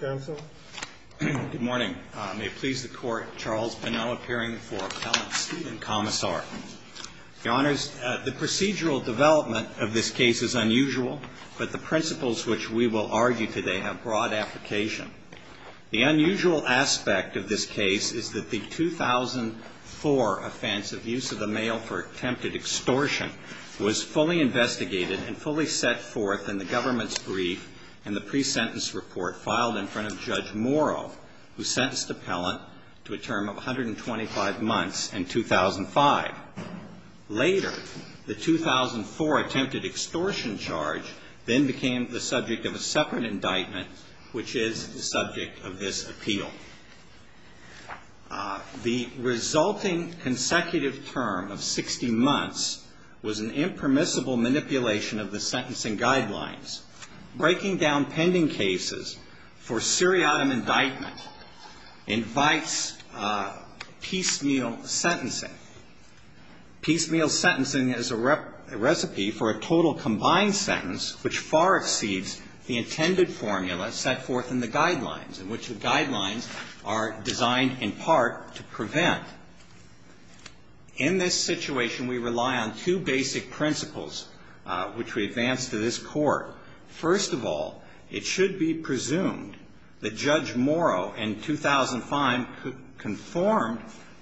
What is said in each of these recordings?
The procedural development of this case is unusual, but the principles which we will argue today have broad application. The unusual aspect of this case is that the 2004 offense of use of the mail for attempted extortion was fully investigated and fully set forth in the government's brief and the pre-sentence report filed in front of Judge Morrow, who sentenced the appellant to a term of 125 months in 2005. Later, the 2004 attempted extortion charge then became the subject of a separate indictment, which is the subject of this appeal. The resulting consecutive term of 60 months was an impermissible manipulation of the sentencing guidelines. Breaking down pending cases for seriatim indictment invites piecemeal sentencing. Piecemeal sentencing is a recipe for a total combined sentence which far exceeds the intended formula set forth in the guidelines, in which the guidelines are designed in part to prevent. In this situation, we rely on two basic principles which we advance to this Court. First of all, it should be presumed that Judge Morrow in 2005 conformed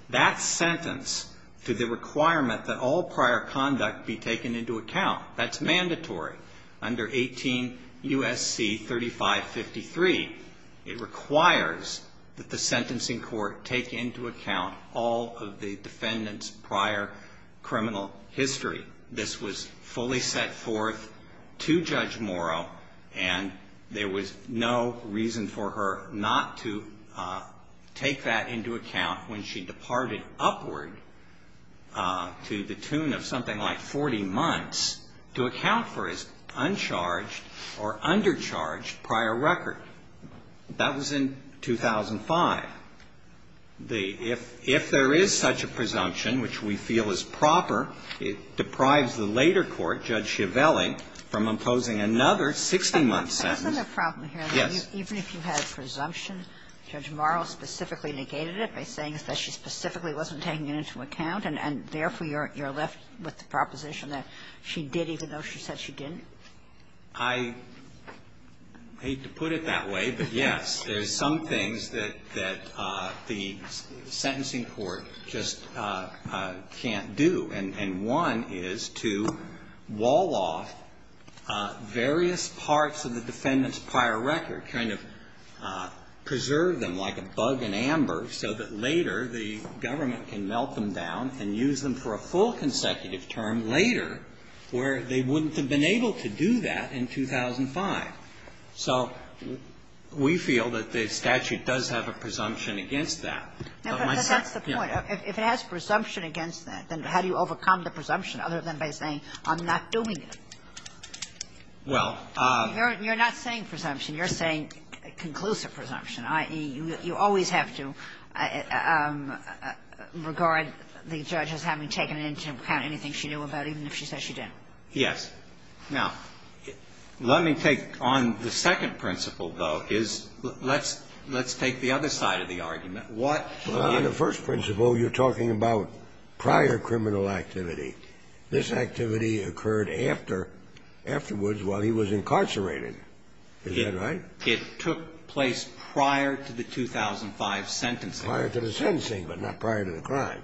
that sentence to the requirement that all prior conduct be taken into account. That's mandatory under 18 U.S.C. 3553. It requires that the sentencing court take into account all of the defendant's prior criminal history. This was fully set forth to Judge Morrow, and there was no reason for her not to take that into account when she departed upward to the tune of something like 40 months to account for his uncharged or undercharged prior record. That was in 2005. If there is such a presumption, which we feel is proper, it deprives the later court, Judge Schiavelli, from imposing another 60-month sentence. Yes. Even if you had a presumption, Judge Morrow specifically negated it by saying that she specifically wasn't taking it into account, and therefore you're left with a proposition that she did even though she said she didn't? I hate to put it that way, but, yes, there's some things that the sentencing court just can't do, and one is to wall off various parts of the defendant's prior record, kind of preserve them like a bug in amber so that later the government can melt them down and use them for a full consecutive term later where they wouldn't have been able to do that in 2005. So we feel that the statute does have a presumption against that. But my second question is, if it has presumption against that, then how do you overcome the presumption other than by saying, I'm not doing it? Well, you're not saying presumption. You're saying conclusive presumption, i.e., you always have to regard the judge as having taken into account anything she knew about even if she said she didn't. Yes. Now, let me take on the second principle, though, is let's take the other side of the argument. What do you do? Well, on the first principle, you're talking about prior criminal activity. This activity occurred after, afterwards while he was incarcerated. Is that right? It took place prior to the 2005 sentencing. Prior to the sentencing, but not prior to the crime.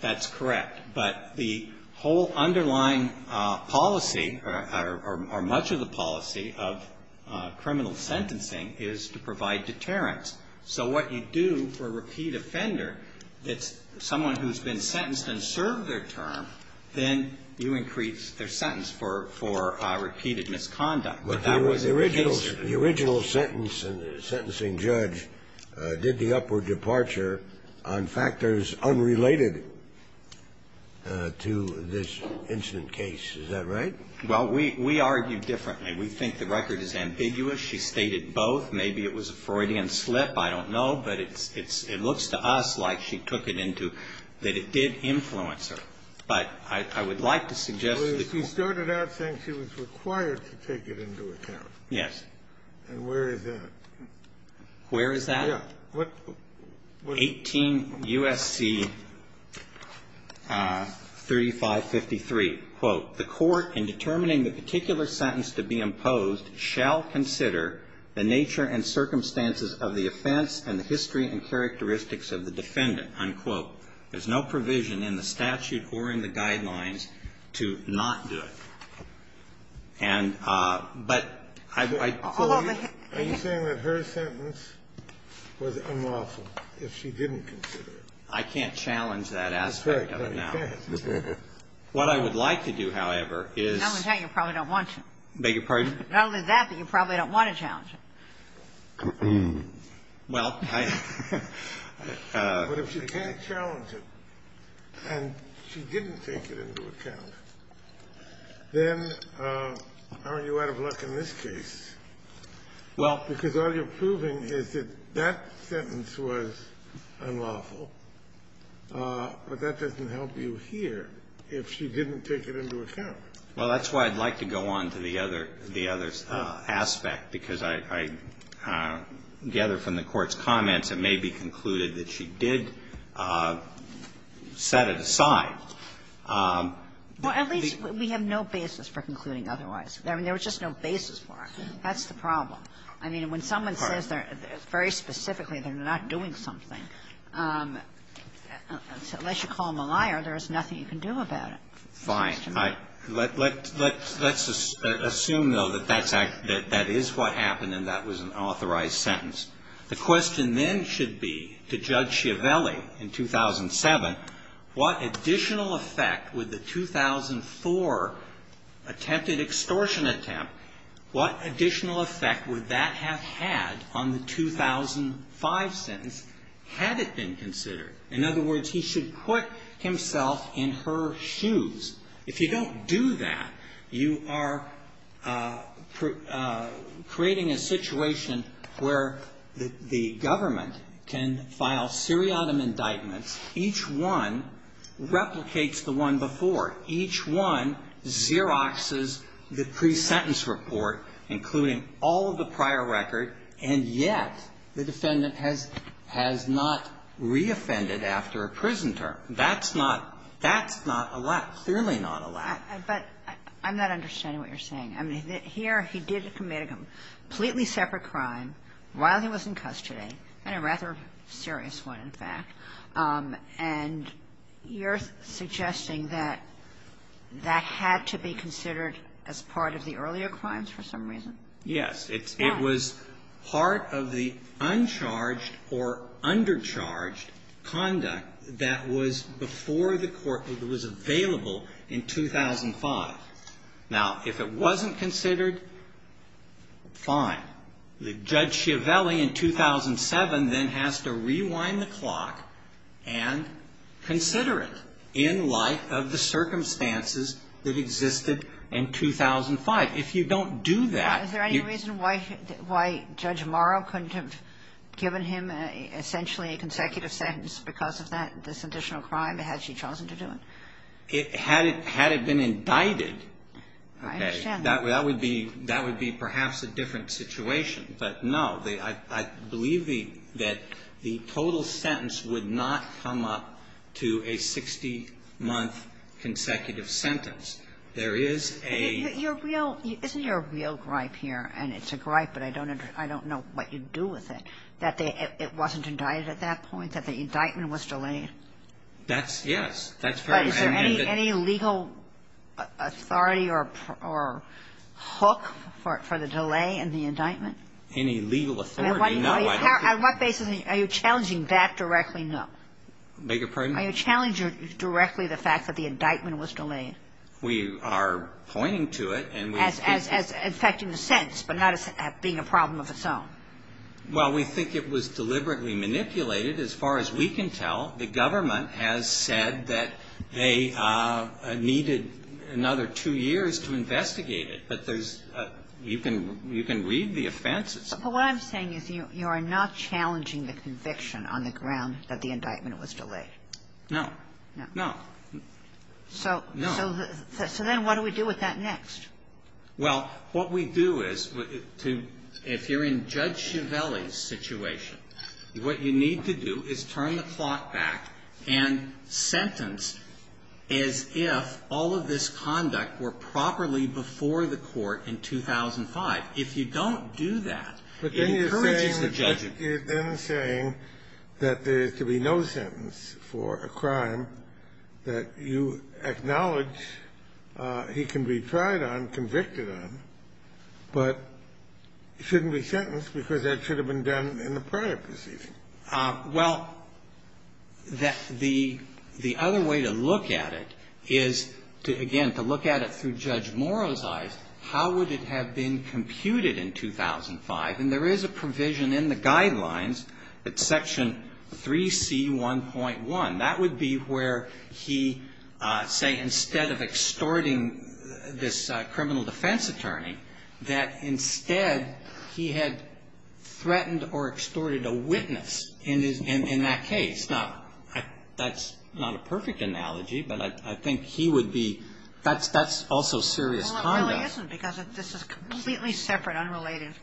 That's correct. But the whole underlying policy, or much of the policy of criminal sentencing is to provide deterrence. So what you do for repeat offender, it's someone who's been sentenced and served their term, then you increase their sentence for repeated misconduct. But the original sentence in the sentencing judge did the upward departure on factors unrelated to this incident case. Is that right? Well, we argue differently. We think the record is ambiguous. She stated both. Maybe it was a Freudian slip. I don't know. But it looks to us like she took it into, that it did influence her. But I would like to suggest that you can't. Well, she started out saying she was required to take it into account. Yes. And where is that? Where is that? Yeah. What? 18 U.S.C. 3553, quote, the Court, in determining the particular sentence to be imposed, shall consider the nature and circumstances of the offense and the history and characteristics of the defendant, unquote. There's no provision in the statute or in the guidelines to not do it. And but I'd like to say that her sentence was unlawful if she didn't consider I can't challenge that aspect of it now. What I would like to do, however, is I'm going to tell you, you probably don't want to. Beg your pardon? Not only that, but you probably don't want to challenge it. Well, I But if she can't challenge it and she didn't take it into account, then aren't you out of luck in this case? Well Because all you're proving is that that sentence was unlawful, but that doesn't help you here if she didn't take it into account. Well, that's why I'd like to go on to the other aspect, because I gather from the Court's comments it may be concluded that she did set it aside. Well, at least we have no basis for concluding otherwise. I mean, there was just no basis for it. That's the problem. I mean, when someone says they're, very specifically, they're not doing something, unless you call them a liar, there is nothing you can do about it. Fine. Let's assume, though, that that is what happened and that was an authorized sentence. The question then should be to Judge Schiavelli in 2007, what additional effect would that have had on the 2005 sentence, had it been considered? In other words, he should put himself in her shoes. If you don't do that, you are creating a situation where the government can file seriatim indictments. Each one replicates the one before. Each one Xeroxes the pre-sentence report, including all of the prior record, and yet the defendant has not re-offended after a prison term. That's not a lack, clearly not a lack. But I'm not understanding what you're saying. I mean, here he did commit a completely separate crime while he was in custody, and a rather serious one, in fact. And you're suggesting that that had to be considered as part of the earlier crimes for some reason? Yes. It was part of the uncharged or undercharged conduct that was before the court that was available in 2005. Now, if it wasn't considered, fine. Judge Chiavelli in 2007 then has to rewind the clock and consider it in light of the circumstances that existed in 2005. If you don't do that, you're going to be in trouble. Is there any reason why Judge Morrow couldn't have given him essentially a consecutive sentence because of that, this additional crime, had she chosen to do it? Had it been indicted, that would be perhaps a different situation. But, no, I believe that the total sentence would not come up to a 60-month consecutive sentence. There is a ---- Isn't there a real gripe here, and it's a gripe, but I don't know what you do with it, that it wasn't indicted at that point, that the indictment was delayed? That's yes. That's very ---- Is there any legal authority or hook for the delay in the indictment? Any legal authority, no. On what basis are you challenging that directly? No. Beg your pardon? Are you challenging directly the fact that the indictment was delayed? We are pointing to it and we ---- As affecting the sentence, but not as being a problem of its own. Well, we think it was deliberately manipulated. As far as we can tell, the government has said that they needed another two years to investigate it, but there's ---- you can read the offenses. But what I'm saying is you are not challenging the conviction on the ground that the indictment was delayed. No. No. So then what do we do with that next? Well, what we do is, if you're in Judge Chiavelli's situation, what you need to do is turn the clock back and sentence as if all of this conduct were properly before the Court in 2005. If you don't do that, it encourages the judgment. But then you're saying that there is to be no sentence for a crime that you acknowledge he can be tried on, convicted on, but shouldn't be sentenced because that should have been done in the prior proceeding. Well, the other way to look at it is to, again, to look at it through Judge Morrow's eyes. How would it have been computed in 2005? And there is a provision in the Guidelines that Section 3C1.1, that would be where he, say, instead of extorting this criminal defense attorney, that instead he had extorted a witness in that case. Now, that's not a perfect analogy, but I think he would be – that's also serious conduct. Well, it really isn't, because this is a completely separate, unrelated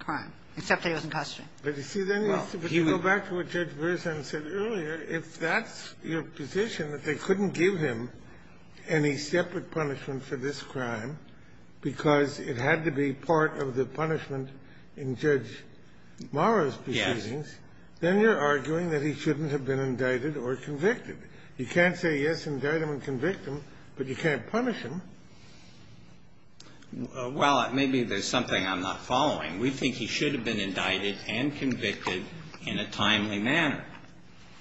crime, except that he was in custody. But, you see, then you have to go back to what Judge Verzon said earlier. If that's your position, that they couldn't give him any separate punishment for this crime because it had to be part of the punishment in Judge Morrow's proceedings, then you're arguing that he shouldn't have been indicted or convicted. You can't say, yes, indict him and convict him, but you can't punish him. Well, maybe there's something I'm not following. We think he should have been indicted and convicted in a timely manner,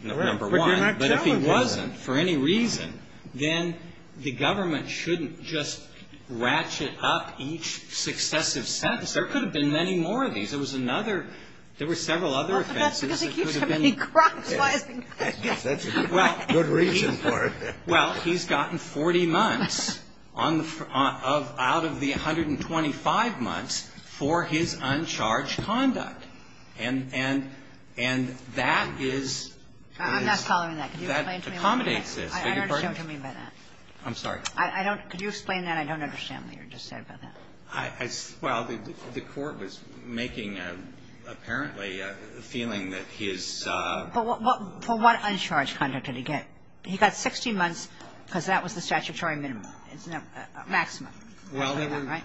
number one. But if he wasn't for any reason, then the government shouldn't just ratchet up each successive sentence. There could have been many more of these. There was another – there were several other offenses that could have been – Well, but that's because he keeps committing crimes while he's in custody. That's a good reason for it. Well, he's gotten 40 months on the – out of the 125 months for his uncharged conduct. And that is – I'm not following that. Can you explain to me what you mean by that? That accommodates this. I beg your pardon? I don't understand what you mean by that. I'm sorry. I don't – could you explain that? I don't understand what you just said about that. I – well, the court was making, apparently, a feeling that he is – But what uncharged conduct did he get? He got 60 months because that was the statutory minimum, maximum, right?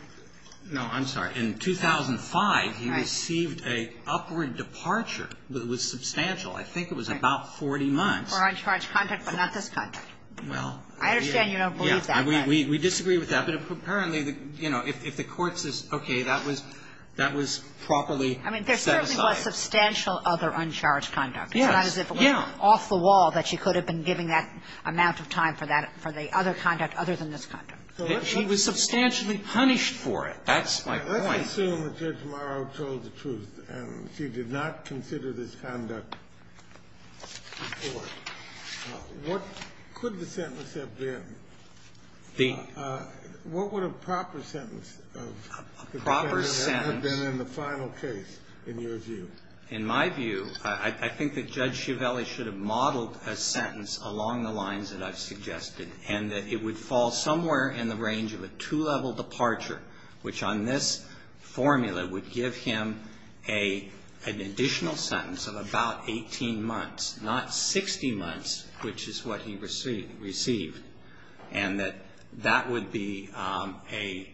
No, I'm sorry. In 2005, he received a upward departure that was substantial. I think it was about 40 months. For uncharged conduct, but not this conduct. Well, I understand you don't believe that. We disagree with that. But apparently, you know, if the court says, okay, that was – that was properly set aside. I mean, there certainly was substantial other uncharged conduct. Yes. It's not as if it was off the wall that she could have been giving that amount of time for that – for the other conduct other than this conduct. She was substantially punished for it. That's my point. Let's assume that Judge Morrow told the truth and she did not consider this conduct before. What could the sentence have been? The – What would a proper sentence have been in the final case, in your view? In my view, I think that Judge Schiavelli should have modeled a sentence along the lines that I've suggested and that it would fall somewhere in the range of a two-level departure, which on this formula would give him a – an additional sentence of about 18 months, not 60 months, which is what he received. And that that would be a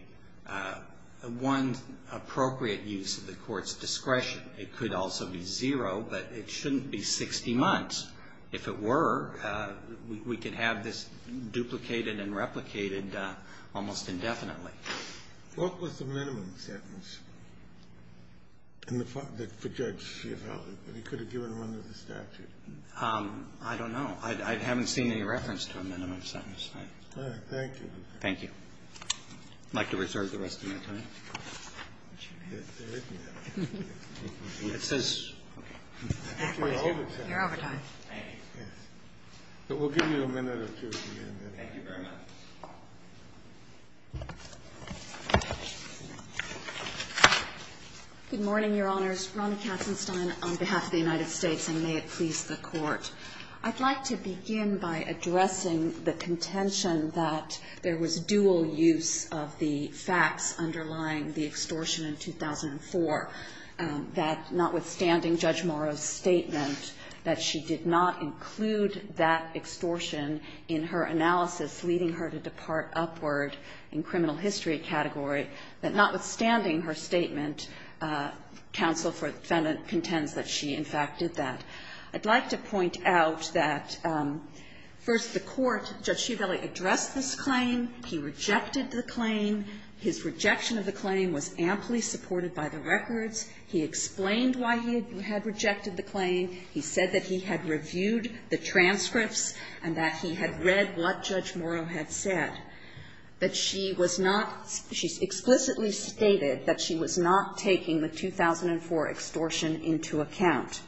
– one appropriate use of the court's discretion. It could also be zero, but it shouldn't be 60 months. If it were, we could have this duplicated and replicated almost indefinitely. What was the minimum sentence in the – for Judge Schiavelli that he could have given under the statute? I don't know. I haven't seen any reference to a minimum sentence. Thank you. I'd like to reserve the rest of my time. It says – Your overtime. Thank you. We'll give you a minute or two to get a minute. Thank you very much. Good morning, Your Honors. Ronna Katzenstein on behalf of the United States, and may it please the Court. I'd like to begin by addressing the contention that there was dual use of the facts underlying the extortion in 2004, that notwithstanding Judge Morrow's statement that she did not include that extortion in her analysis leading her to depart upward in criminal history category, that notwithstanding her statement, counsel contends that she in fact did that. I'd like to point out that, first, the Court, Judge Schiavelli addressed this claim. He rejected the claim. His rejection of the claim was amply supported by the records. He explained why he had rejected the claim. He said that he had reviewed the transcripts and that he had read what Judge Morrow had said, that she was not – she explicitly stated that she was not taking the 2004 extortion into account.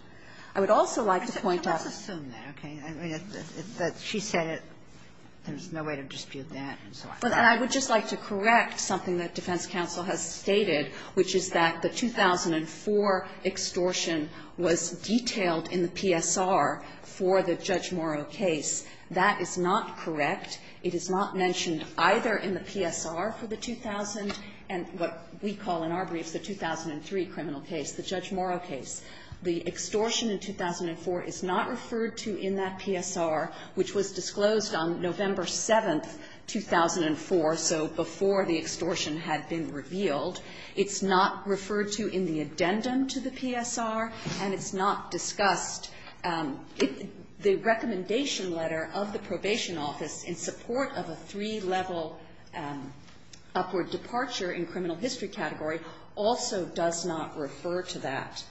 I would also like to point out – Kagan, let's assume that, okay? That she said it, there's no way to dispute that, and so on. But I would just like to correct something that defense counsel has stated, which is that the 2004 extortion was detailed in the PSR for the Judge Morrow case. That is not correct. It is not mentioned either in the PSR for the 2000 and what we call in our briefs the 2003 criminal case, the Judge Morrow case. The extortion in 2004 is not referred to in that PSR, which was disclosed on November 7, 2004, so before the extortion had been revealed. It's not referred to in the addendum to the PSR, and it's not discussed. The recommendation letter of the Probation Office in support of a three-level upward departure in criminal history category also does not refer to that.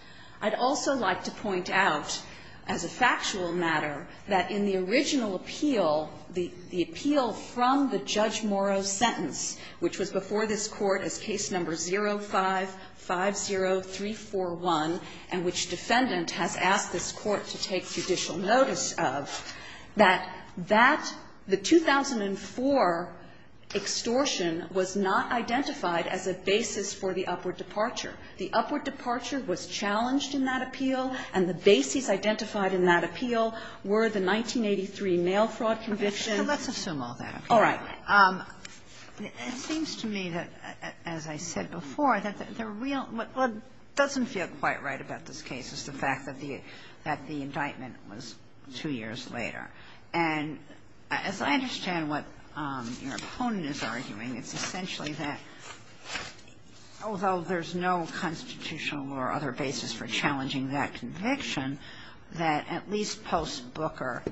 I'd also like to point out, as a factual matter, that in the original appeal, the appeal from the Judge Morrow sentence, which was before this Court as case number 05-50341, and which defendant has asked this Court to take judicial notice of, that that, the 2004 extortion was not identified as a basis for the upward departure. The upward departure was challenged in that appeal, and the basis identified in that appeal were the 1983 mail fraud conviction. Kagan, so let's assume all that. All right. It seems to me that, as I said before, that the real what doesn't feel quite right about this case is the fact that the indictment was two years later. And as I understand what your opponent is arguing, it's essentially that, although there's no constitutional or other basis for challenging that conviction, that at least post-Booker,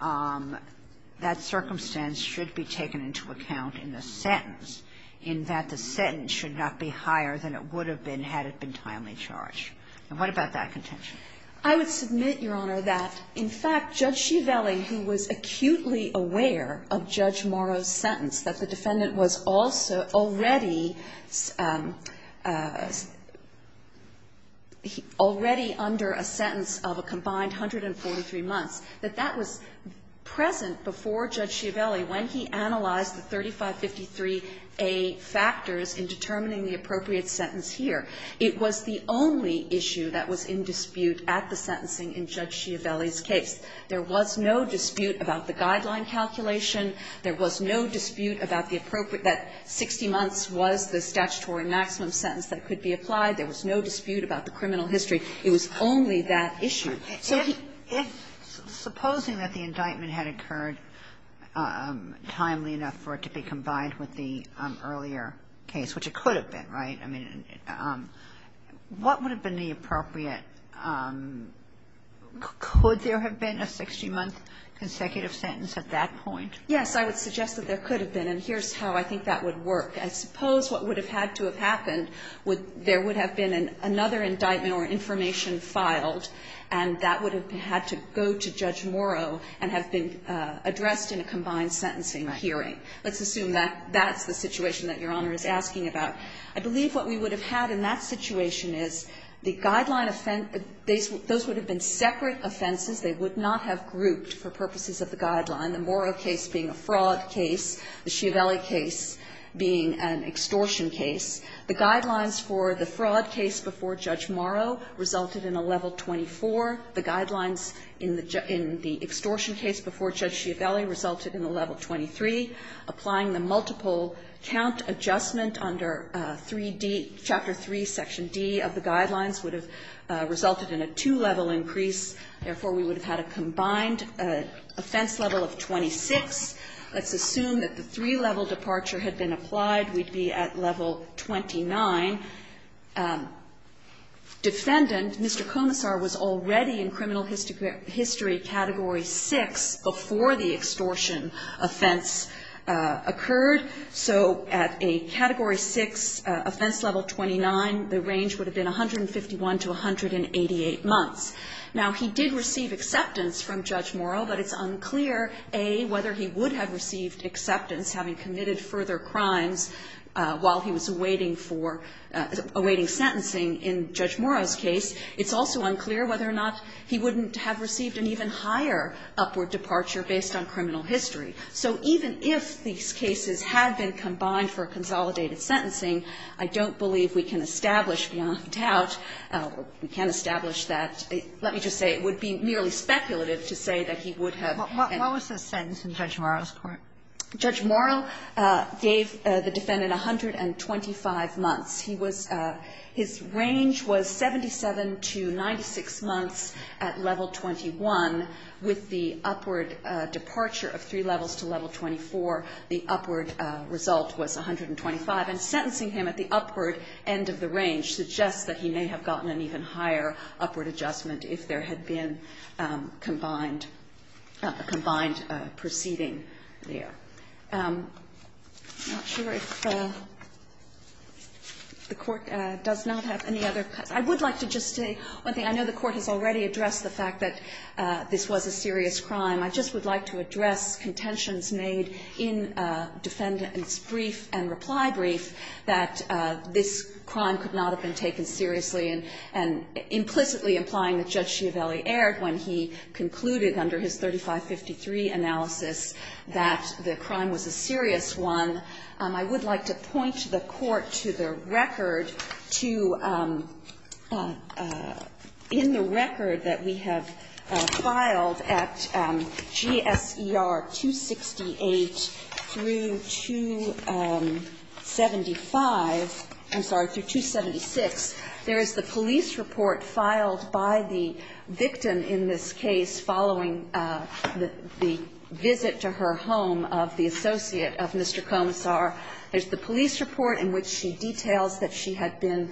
that circumstance should be taken into account in the sentence, in that the sentence should not be higher than it would have been had it been timely in charge. And what about that contention? I would submit, Your Honor, that, in fact, Judge Schiavelli, who was acutely aware of Judge Morrow's sentence, that the defendant was also already under a sentence of a combined 143 months, that that was present before Judge Schiavelli when he analyzed the 3553A factors in determining the appropriate sentence here. It was the only issue that was in dispute at the sentencing in Judge Schiavelli's case. There was no dispute about the guideline calculation. There was no dispute about the appropriate that 60 months was the statutory maximum sentence that could be applied. There was no dispute about the criminal history. It was only that issue. So he ---- Kagan. Supposing that the indictment had occurred timely enough for it to be combined with the earlier case, which it could have been, right? I mean, what would have been the appropriate ---- could there have been a 60-month consecutive sentence at that point? Yes. I would suggest that there could have been. And here's how I think that would work. I suppose what would have had to have happened, there would have been another indictment or information filed, and that would have had to go to Judge Morrow and have been addressed in a combined sentencing hearing. Let's assume that that's the situation that Your Honor is asking about. I believe what we would have had in that situation is the guideline ---- those would have been separate offenses. They would not have grouped for purposes of the guideline, the Morrow case being a fraud case, the Schiavelli case being an extortion case. The guidelines for the fraud case before Judge Morrow resulted in a level 24. The guidelines in the extortion case before Judge Schiavelli resulted in a level 23. Applying the multiple count adjustment under 3D ---- Chapter 3, Section D of the guidelines would have resulted in a two-level increase. Therefore, we would have had a combined offense level of 26. Let's assume that the three-level departure had been applied. We'd be at level 29. Defendant, Mr. Komisar, was already in criminal history category 6 before the extortion offense occurred. So at a category 6 offense level 29, the range would have been 151 to 188 months. Now, he did receive acceptance from Judge Morrow, but it's unclear, A, whether he would have received acceptance having committed further crimes while he was awaiting for ---- awaiting sentencing in Judge Morrow's case. It's also unclear whether or not he wouldn't have received an even higher upward departure based on criminal history. So even if these cases had been combined for a consolidated sentencing, I don't believe we can establish beyond doubt or we can't establish that. Let me just say it would be merely speculative to say that he would have ---- Ginsburg. What was the sentence in Judge Morrow's court? Morrow gave the defendant 125 months. He was ---- his range was 77 to 96 months at level 21 with the upward departure of three levels to level 24. The upward result was 125. And sentencing him at the upward end of the range suggests that he may have gotten an even higher upward adjustment if there had been combined ---- combined proceeding there. I'm not sure if the Court does not have any other ---- I would like to just say one thing. I know the Court has already addressed the fact that this was a serious crime. I just would like to address contentions made in defendant's brief and reply brief that this crime could not have been taken seriously and implicitly implying that Judge Schiavelli erred when he concluded under his 3553 analysis that the crime was a serious one. I would like to point the Court to the record to ---- in the record that we have filed at GSER 268 through 275 ---- I'm sorry, through 276, there is the police report filed by the victim in this case following the visit to her home of the associate of Mr. Komisar. There's the police report in which she details that she had been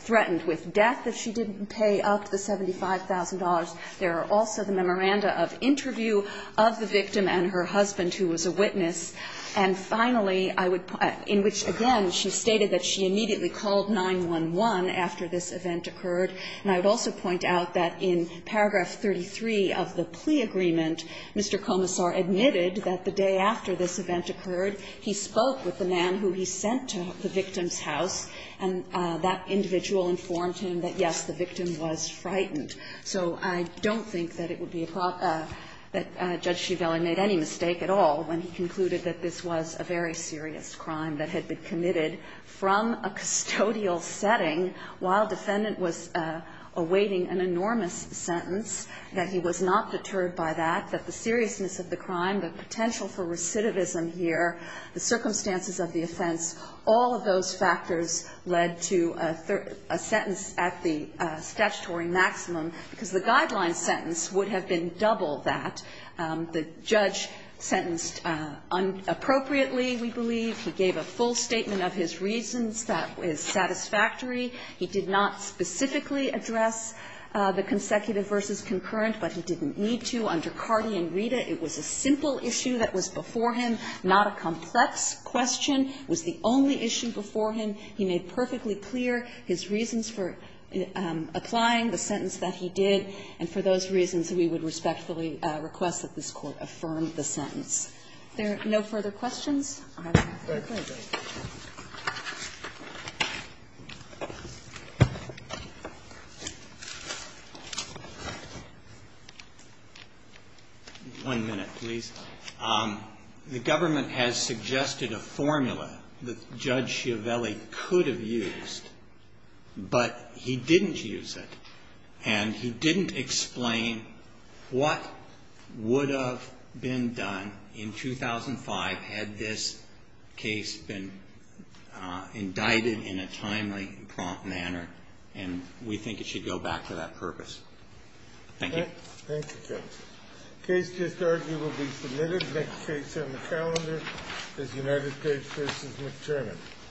threatened with death if she didn't pay up the $75,000. There are also the memoranda of interview of the victim and her husband, who was a witness. And finally, I would ---- in which, again, she stated that she immediately called 911 after this event occurred. And I would also point out that in paragraph 33 of the plea agreement, Mr. Komisar admitted that the day after this event occurred, he spoke with the man who he sent to the victim's house, and that individual informed him that, yes, the victim was frightened. So I don't think that it would be a problem that Judge Schiavelli made any mistake at all when he concluded that this was a very serious crime that had been committed from a custodial setting while defendant was awaiting an enormous sentence, that he was not deterred by that, that the seriousness of the crime, the potential for recidivism here, the circumstances of the offense, all of those factors led to a sentence at the statutory maximum, because the guideline sentence would have been double that. The judge sentenced inappropriately, we believe. He gave a full statement of his reasons. That is satisfactory. He did not specifically address the consecutive versus concurrent, but he didn't need to. Under Cardi and Rita, it was a simple issue that was before him, not a complex question. It was the only issue before him. He made perfectly clear his reasons for applying the sentence that he did, and for those reasons, we would respectfully request that this Court affirm the sentence. If there are no further questions, I have no further questions. Roberts. One minute, please. The government has suggested a formula that Judge Schiavelli could have used, but he didn't use it, and he didn't explain what would have been done in 2005 had this case been indicted in a timely and prompt manner, and we think it should go back to that purpose. Thank you. Thank you, Judge. The case just argued will be submitted. The next case on the calendar is United States v. McTernan.